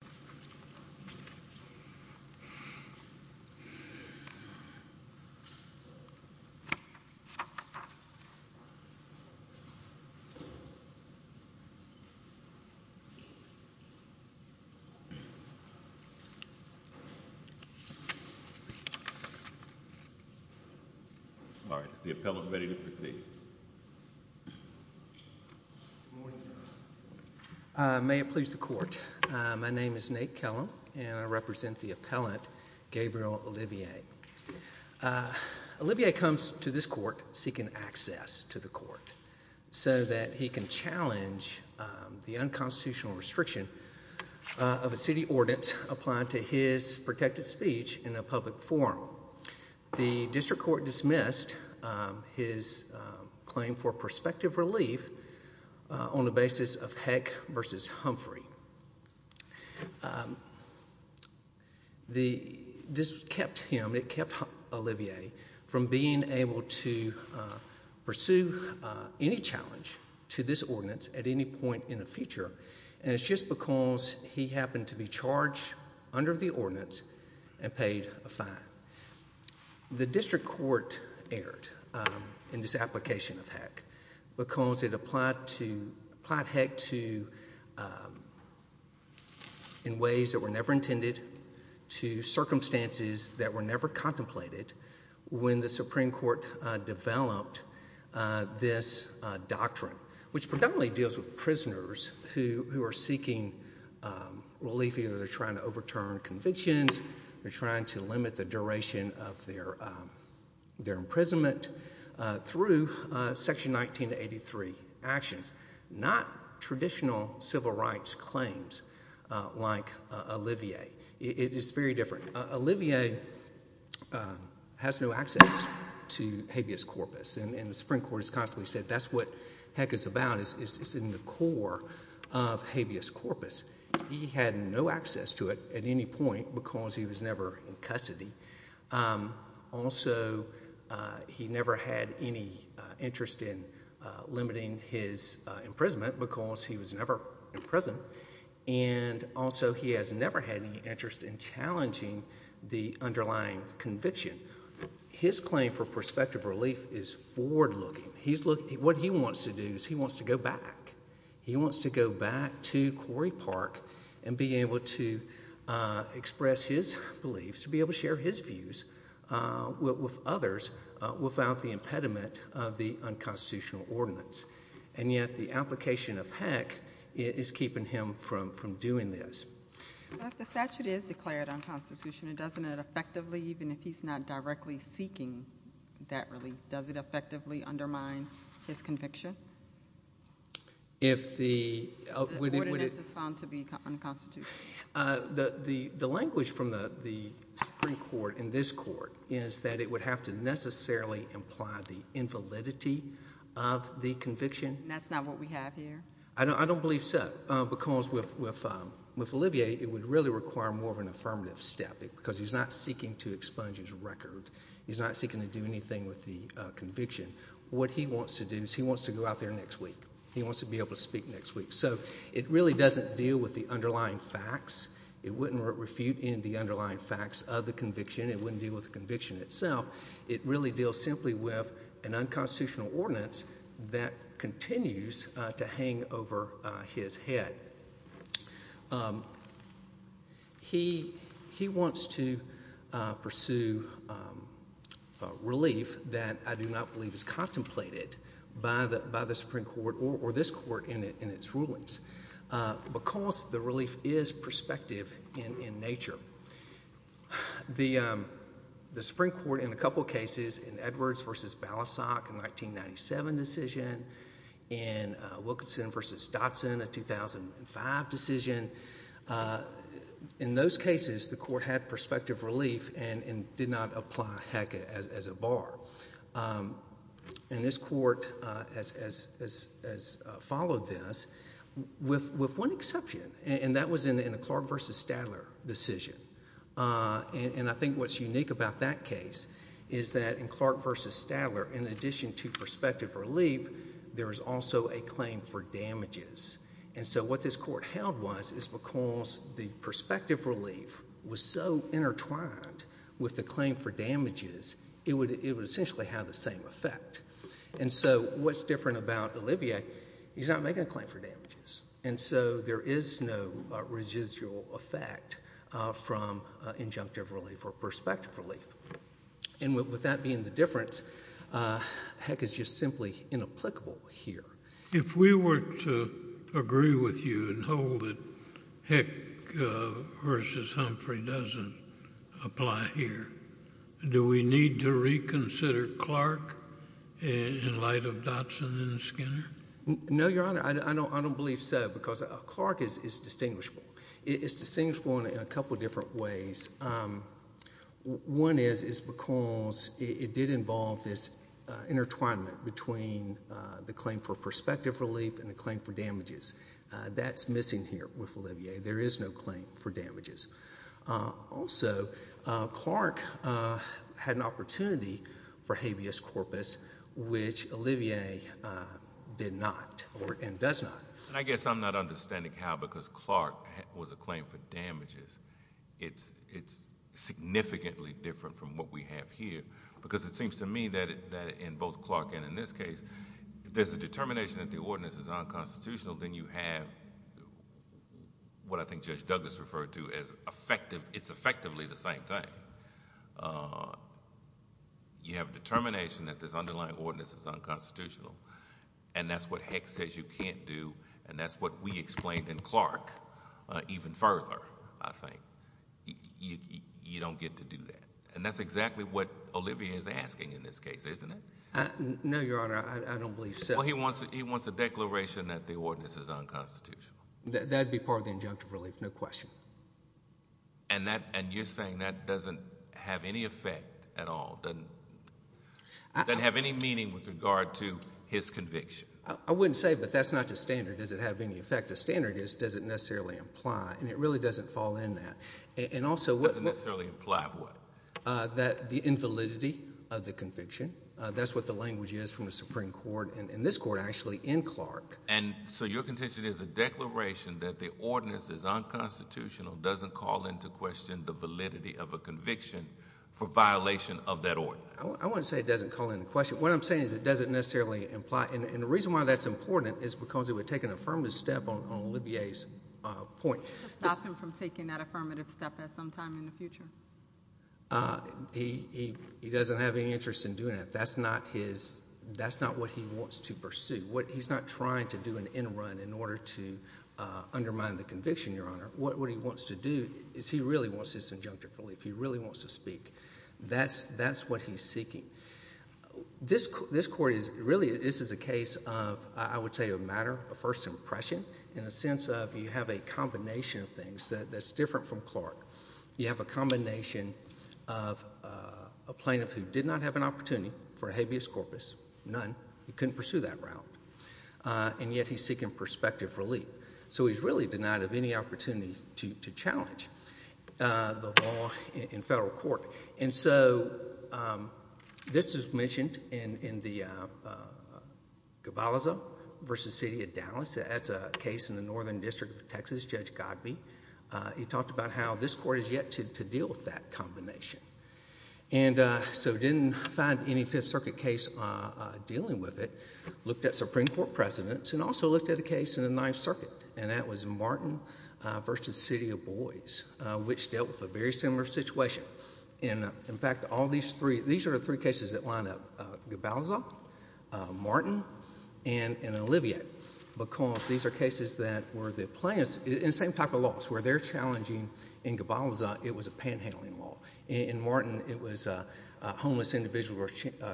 1-800-553-2050 The appellant is ready to proceed May it please the court, my name is Nate Kellum and I represent the appellant, Gabriel Olivier Olivier comes to this court seeking access to the court so that he can challenge the unconstitutional restriction of a city ordinance applied to his protected speech in a public forum The district court dismissed his claim for prospective relief on the basis of Heck v. Humphrey This kept Olivier from being able to pursue any challenge to this ordinance at any point in the future and it's just because he happened to be charged under the ordinance and paid a fine The district court erred in this application of Heck because it applied Heck in ways that were never intended to circumstances that were never contemplated when the Supreme Court developed this doctrine which predominantly deals with prisoners who are seeking relief either trying to overturn convictions or trying to limit the duration of their imprisonment through section 1983 actions Not traditional civil rights claims like Olivier. It is very different. Olivier has no access to habeas corpus and the Supreme Court has constantly said that's what Heck is about, it's in the core of habeas corpus He had no access to it at any point because he was never in custody. Also he never had any interest in limiting his imprisonment because he was never in prison and also he has never had any interest in challenging the underlying conviction His claim for prospective relief is forward looking. What he wants to do is he wants to go back. He wants to go back to Quarry Park and be able to express his beliefs, be able to share his views with others without the impediment of the unconstitutional ordinance. And yet the application of Heck is keeping him from doing this If the statute is declared unconstitutional, doesn't it effectively, even if he's not directly seeking that relief, does it effectively undermine his conviction? The ordinance is found to be unconstitutional The language from the Supreme Court in this court is that it would have to necessarily imply the invalidity of the conviction That's not what we have here I don't believe so because with Olivier it would really require more of an affirmative step because he's not seeking to expunge his record. He's not seeking to do anything with the conviction. What he wants to do is he wants to go out there next week. He wants to be able to speak next week So it really doesn't deal with the underlying facts. It wouldn't refute any of the underlying facts of the conviction. It wouldn't deal with the conviction itself. It really deals simply with an unconstitutional ordinance that continues to hang over his head He wants to pursue relief that I do not believe is contemplated by the Supreme Court or this court in its rulings because the relief is prospective in nature The Supreme Court in a couple of cases, in Edwards v. Balasag in a 1997 decision, in Wilkinson v. Dotson in a 2005 decision, in those cases the court had prospective relief and did not apply HECA as a bar And this court has followed this with one exception and that was in a Clark v. Stadler decision And I think what's unique about that case is that in Clark v. Stadler, in addition to prospective relief, there is also a claim for damages And so what this court held was is because the prospective relief was so intertwined with the claim for damages, it would essentially have the same effect And so what's different about Olivier, he's not making a claim for damages and so there is no residual effect from injunctive relief or prospective relief And with that being the difference, HECA is just simply inapplicable here If we were to agree with you and hold that HECA v. Humphrey doesn't apply here, do we need to reconsider Clark in light of Dotson and Skinner? No, Your Honor. I don't believe so because Clark is distinguishable. It is distinguishable in a couple of different ways One is because it did involve this intertwinement between the claim for prospective relief and the claim for damages That's missing here with Olivier. There is no claim for damages Also, Clark had an opportunity for habeas corpus, which Olivier did not and does not I guess I'm not understanding how because Clark was a claim for damages, it's significantly different from what we have here Because it seems to me that in both Clark and in this case, there's a determination that the ordinance is unconstitutional Then you have what I think Judge Douglas referred to as it's effectively the same thing You have a determination that this underlying ordinance is unconstitutional And that's what HECA says you can't do and that's what we explained in Clark even further, I think You don't get to do that and that's exactly what Olivier is asking in this case, isn't it? No, Your Honor. I don't believe so Well, he wants a declaration that the ordinance is unconstitutional That would be part of the injunctive relief, no question And you're saying that doesn't have any effect at all, doesn't have any meaning with regard to his conviction I wouldn't say, but that's not just standard. Does it have any effect? The standard is, does it necessarily imply? And it really doesn't fall in that It doesn't necessarily imply what? That the invalidity of the conviction. That's what the language is from the Supreme Court and this court actually in Clark And so your contention is a declaration that the ordinance is unconstitutional doesn't call into question the validity of a conviction for violation of that ordinance I wouldn't say it doesn't call into question. What I'm saying is it doesn't necessarily imply And the reason why that's important is because it would take an affirmative step on Olivier's point It would stop him from taking that affirmative step at some time in the future He doesn't have any interest in doing it. That's not what he wants to pursue He's not trying to do an end run in order to undermine the conviction, Your Honor What he wants to do is he really wants this injunctive relief. He really wants to speak That's what he's seeking This court is really, this is a case of, I would say, a matter of first impression In a sense of you have a combination of things that's different from Clark You have a combination of a plaintiff who did not have an opportunity for habeas corpus, none He couldn't pursue that route. And yet he's seeking prospective relief So he's really denied of any opportunity to challenge the law in federal court And so this is mentioned in the Gavalaza v. City of Dallas That's a case in the Northern District of Texas, Judge Godbee He talked about how this court is yet to deal with that combination And so didn't find any Fifth Circuit case dealing with it Looked at Supreme Court precedents and also looked at a case in the Ninth Circuit And that was Martin v. City of Boise, which dealt with a very similar situation In fact, all these three, these are the three cases that line up Gavalaza, Martin, and Olivier Because these are cases that were the plaintiffs, in the same type of laws Where they're challenging, in Gavalaza, it was a panhandling law In Martin, it was a homeless individual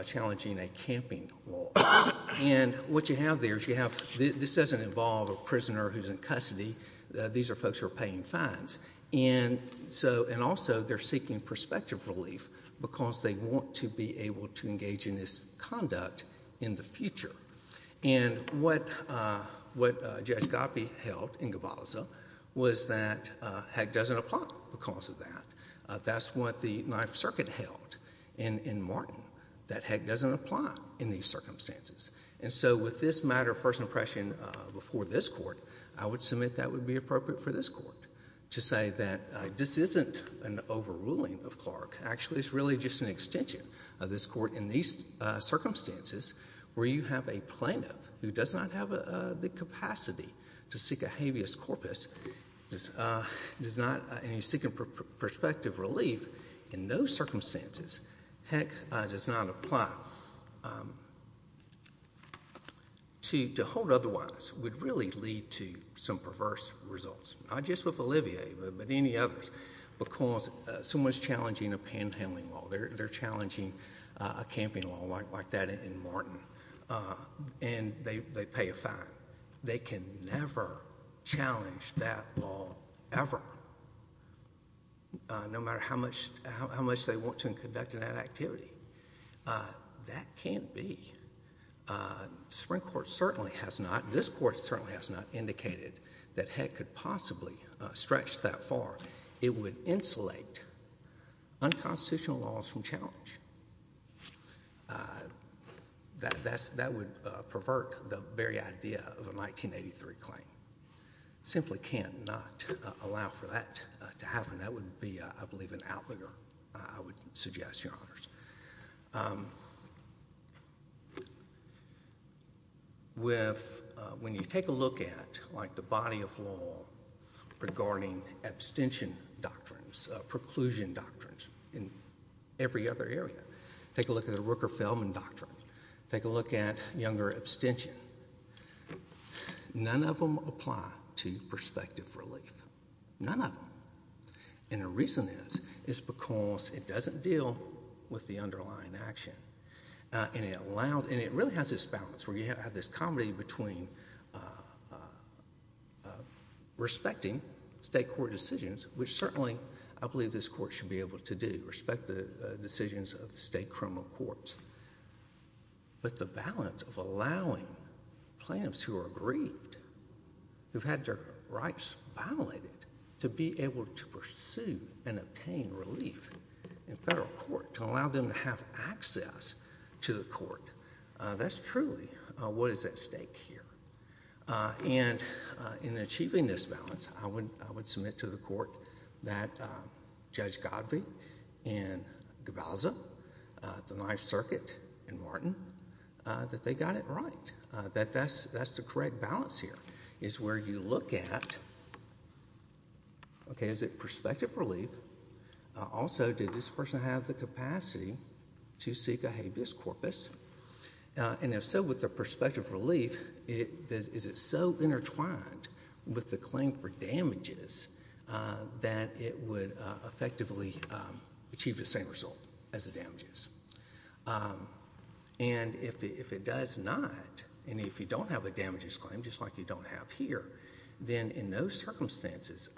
challenging a camping law And what you have there is you have, this doesn't involve a prisoner who's in custody These are folks who are paying fines And also, they're seeking perspective relief Because they want to be able to engage in this conduct in the future And what Judge Godbee held in Gavalaza was that HEC doesn't apply because of that That's what the Ninth Circuit held in Martin, that HEC doesn't apply in these circumstances And so with this matter of first impression before this court I would submit that would be appropriate for this court To say that this isn't an overruling of Clark Actually, it's really just an extension of this court in these circumstances Where you have a plaintiff who does not have the capacity to seek a habeas corpus And he's seeking perspective relief in those circumstances HEC does not apply To hold otherwise would really lead to some perverse results Not just with Olivier, but any others Because someone's challenging a panhandling law They're challenging a camping law like that in Martin And they pay a fine They can never challenge that law, ever No matter how much they want to in conducting that activity That can't be The Supreme Court certainly has not, this court certainly has not Indicated that HEC could possibly stretch that far It would insulate unconstitutional laws from challenge That would pervert the very idea of a 1983 claim Simply cannot allow for that to happen That would be, I believe, an outlier I would suggest, your honors When you take a look at the body of law Regarding abstention doctrines, preclusion doctrines In every other area Take a look at the Rooker-Feldman doctrine Take a look at Younger abstention None of them apply to prospective relief None of them And the reason is, is because it doesn't deal with the underlying action And it really has this balance Where you have this comedy between Respecting state court decisions Which certainly, I believe, this court should be able to do Respect the decisions of state criminal courts But the balance of allowing plaintiffs who are grieved Who've had their rights violated To be able to pursue and obtain relief in federal court To allow them to have access to the court That's truly what is at stake here And in achieving this balance I would submit to the court that Judge Godvey And Govaza, the Ninth Circuit, and Martin That they got it right That that's the correct balance here Is where you look at Okay, is it prospective relief? Also, did this person have the capacity to seek a habeas corpus? And if so, with the prospective relief Is it so intertwined with the claim for damages That it would effectively achieve the same result as the damages? And if it does not And if you don't have a damages claim Just like you don't have here Then in those circumstances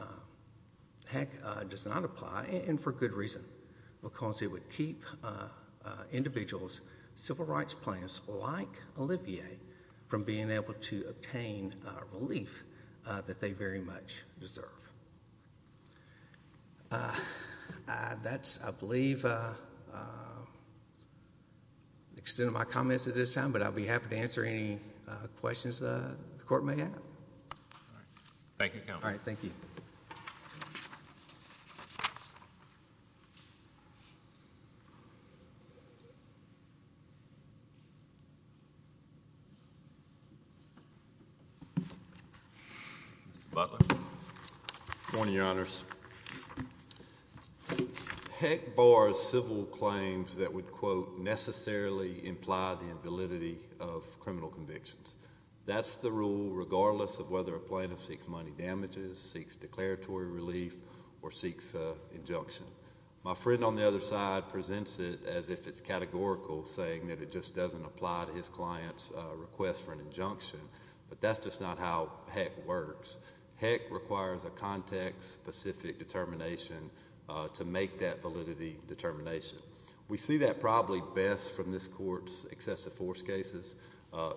Heck, it does not apply And for good reason Because it would keep individuals' civil rights plans Like Olivier's From being able to obtain relief That they very much deserve That's, I believe The extent of my comments at this time But I'll be happy to answer any questions the court may have Thank you, Counselor Thank you Mr. Butler Good morning, Your Honors Heck bars civil claims that would, quote Necessarily imply the invalidity of criminal convictions That's the rule regardless of whether a plaintiff seeks money damages Seeks declaratory relief Or seeks injunction My friend on the other side presents it As if it's categorical Saying that it just doesn't apply to his client's request for an injunction But that's just not how Heck works Heck requires a context-specific determination To make that validity determination We see that probably best from this Court's excessive force cases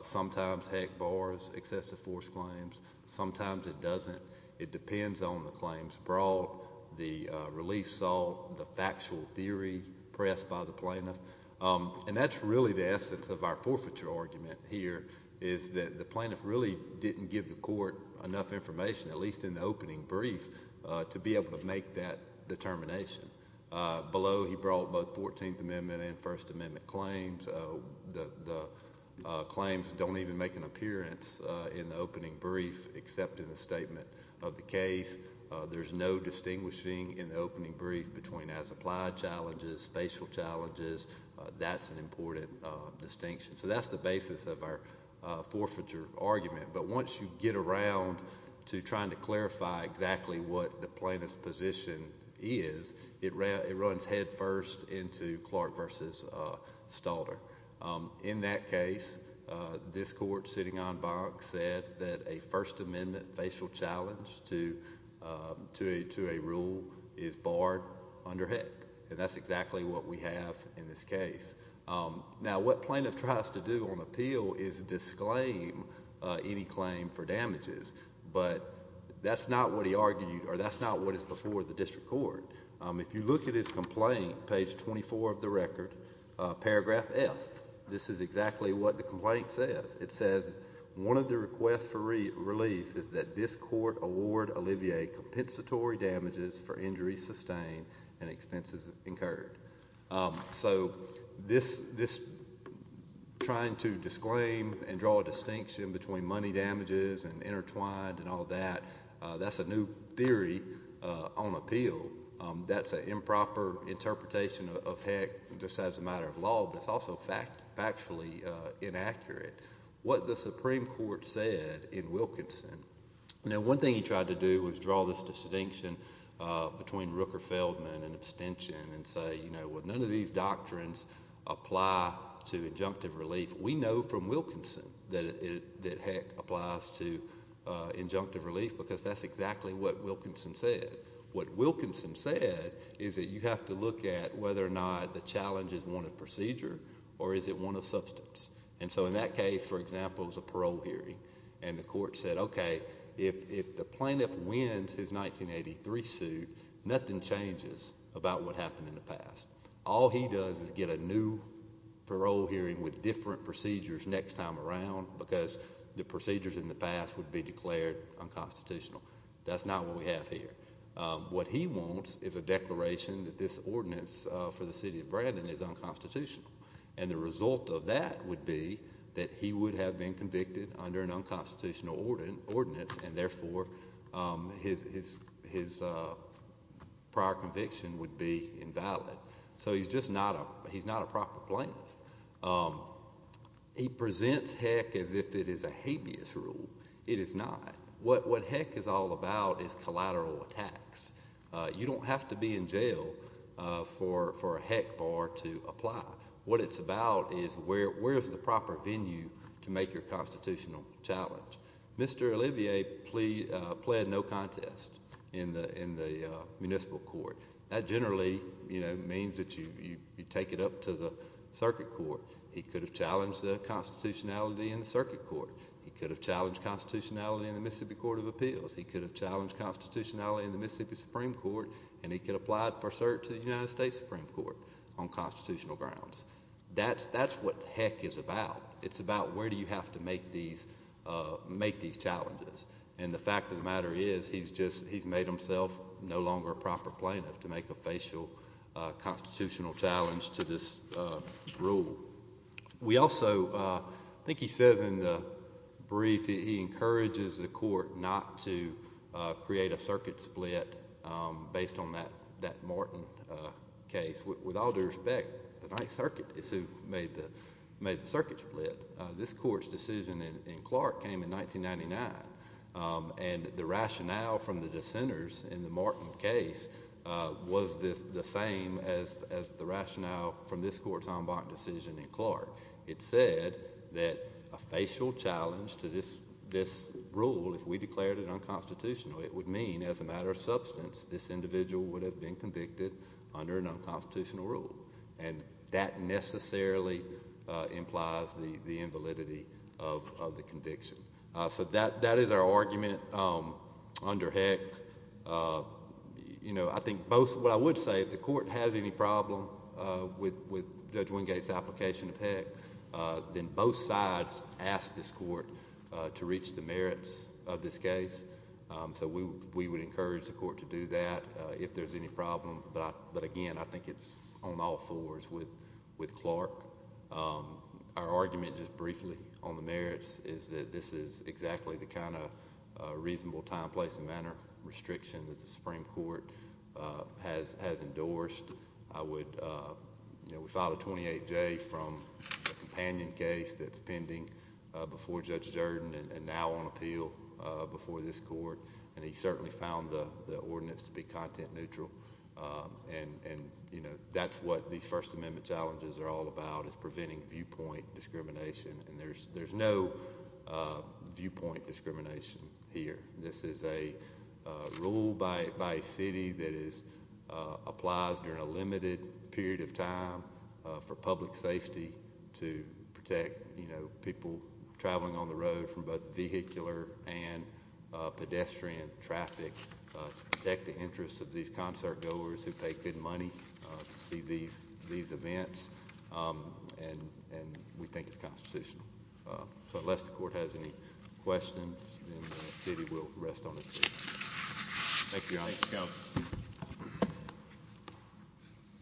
Sometimes Heck bars excessive force claims Sometimes it doesn't It depends on the claims brought The relief sought The factual theory pressed by the plaintiff And that's really the essence of our forfeiture argument here Is that the plaintiff really didn't give the court enough information At least in the opening brief To be able to make that determination Below he brought both 14th Amendment and First Amendment claims The claims don't even make an appearance in the opening brief Except in the statement of the case There's no distinguishing in the opening brief Between as-applied challenges, facial challenges That's an important distinction So that's the basis of our forfeiture argument But once you get around to trying to clarify Exactly what the plaintiff's position is It runs headfirst into Clark v. Stalter In that case, this Court, sitting on Bonk Said that a First Amendment facial challenge To a rule is barred under Heck And that's exactly what we have in this case Now what plaintiff tries to do on appeal Is disclaim any claim for damages But that's not what he argued Or that's not what is before the District Court If you look at his complaint, page 24 of the record Paragraph F, this is exactly what the complaint says It says, one of the requests for relief Is that this Court award Olivier compensatory damages For injuries sustained and expenses incurred So this trying to disclaim and draw a distinction Between money damages and intertwined and all that That's a new theory on appeal That's an improper interpretation of Heck Just as a matter of law But it's also factually inaccurate What the Supreme Court said in Wilkinson Now one thing he tried to do was draw this distinction Between Rooker-Feldman and abstention And say, you know, none of these doctrines Apply to injunctive relief We know from Wilkinson that Heck applies to injunctive relief Because that's exactly what Wilkinson said What Wilkinson said is that you have to look at Whether or not the challenge is one of procedure Or is it one of substance And so in that case, for example, it was a parole hearing And the Court said, OK, if the plaintiff wins his 1983 suit Nothing changes about what happened in the past All he does is get a new parole hearing With different procedures next time around Because the procedures in the past Would be declared unconstitutional That's not what we have here What he wants is a declaration that this ordinance For the city of Brandon is unconstitutional And the result of that would be That he would have been convicted Under an unconstitutional ordinance And therefore his prior conviction would be invalid So he's just not a proper plaintiff He presents Heck as if it is a habeas rule It is not What Heck is all about is collateral attacks You don't have to be in jail for a Heck bar to apply What it's about is where is the proper venue To make your constitutional challenge Mr. Olivier pled no contest in the municipal court That generally means that you take it up to the circuit court He could have challenged the constitutionality in the circuit court He could have challenged constitutionality in the Mississippi Court of Appeals He could have challenged constitutionality in the Mississippi Supreme Court And he could have applied for cert to the United States Supreme Court On constitutional grounds That's what Heck is about It's about where do you have to make these challenges And the fact of the matter is He's made himself no longer a proper plaintiff To make a facial constitutional challenge to this rule We also, I think he says in the brief He encourages the court not to create a circuit split Based on that Martin case With all due respect, the Ninth Circuit is who made the circuit split This court's decision in Clark came in 1999 And the rationale from the dissenters in the Martin case Was the same as the rationale from this court's en banc decision in Clark It said that a facial challenge to this rule If we declared it unconstitutional It would mean as a matter of substance This individual would have been convicted under an unconstitutional rule And that necessarily implies the invalidity of the conviction So that is our argument under Heck I think what I would say If the court has any problem with Judge Wingate's application of Heck Then both sides ask this court to reach the merits of this case So we would encourage the court to do that If there's any problem But again, I think it's on all fours with Clark Our argument, just briefly, on the merits Is that this is exactly the kind of reasonable time, place and manner Restriction that the Supreme Court has endorsed We filed a 28-J from a companion case That's pending before Judge Jordan And now on appeal before this court And he certainly found the ordinance to be content neutral And that's what these First Amendment challenges are all about Is preventing viewpoint discrimination And there's no viewpoint discrimination here This is a rule by a city that applies during a limited period of time For public safety To protect people traveling on the road From both vehicular and pedestrian traffic To protect the interests of these concertgoers Who pay good money to see these events And we think it's constitutional So unless the court has any questions Thank you, Your Honor Mr. Counsel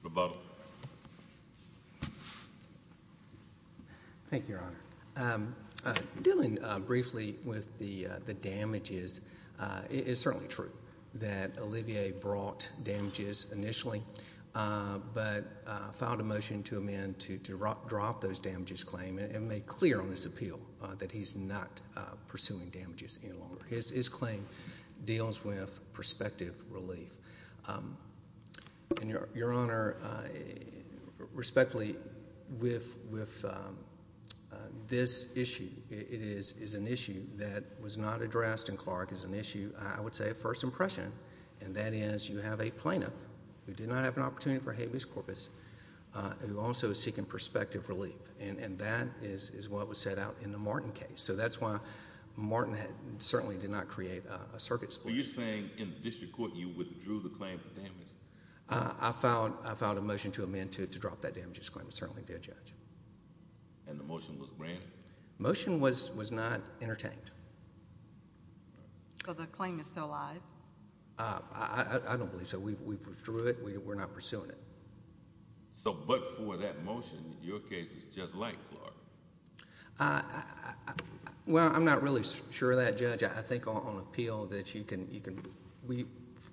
Rebuttal Thank you, Your Honor Dealing briefly with the damages It's certainly true that Olivier brought damages initially But filed a motion to amend to drop those damages claim And made clear on this appeal That he's not pursuing damages any longer His claim deals with perspective relief And, Your Honor, respectfully With this issue It is an issue that was not addressed in Clark As an issue, I would say, of first impression And that is you have a plaintiff Who did not have an opportunity for habeas corpus Who also is seeking perspective relief And that is what was set out in the Martin case So that's why Martin certainly did not create a circuit So you're saying in the district court You withdrew the claim for damages I filed a motion to amend to drop that damages claim It certainly did, Judge And the motion was granted The motion was not entertained So the claim is still alive I don't believe so We withdrew it We're not pursuing it So but for that motion Your case is just like Clark Well, I'm not really sure of that, Judge I think on appeal that you can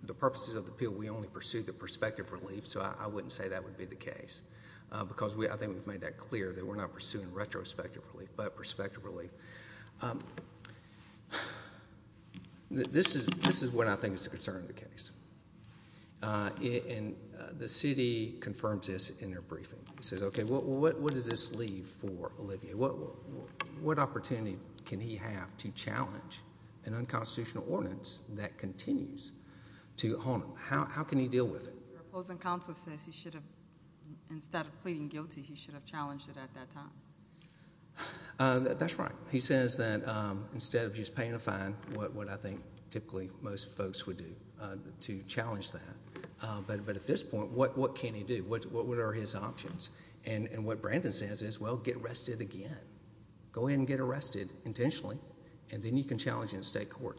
The purposes of the appeal We only pursued the perspective relief So I wouldn't say that would be the case Because I think we've made that clear That we're not pursuing retrospective relief But perspective relief This is what I think is the concern of the case And the city confirmed this in their briefing He says, okay, what does this leave for Olivier? What opportunity can he have to challenge An unconstitutional ordinance that continues to haunt him? How can he deal with it? Your opposing counsel says he should have Instead of pleading guilty He should have challenged it at that time That's right He says that instead of just paying a fine What I think typically most folks would do To challenge that But at this point, what can he do? What are his options? And what Brandon says is, well, get arrested again Go ahead and get arrested intentionally And then you can challenge it in state court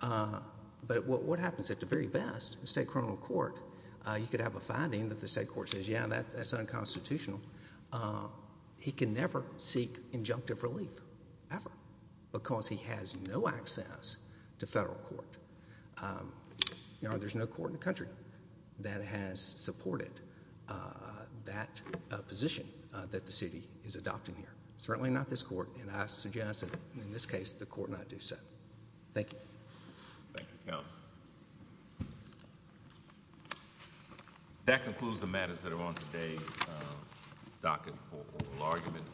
But what happens at the very best In state criminal court You could have a finding that the state court says Yeah, that's unconstitutional He can never seek injunctive relief Ever Because he has no access to federal court There's no court in the country That has supported That position That the city is adopting here Certainly not this court And I suggest that in this case, the court not do so Thank you Thank you, counsel That concludes the matters that are on today's docket for oral arguments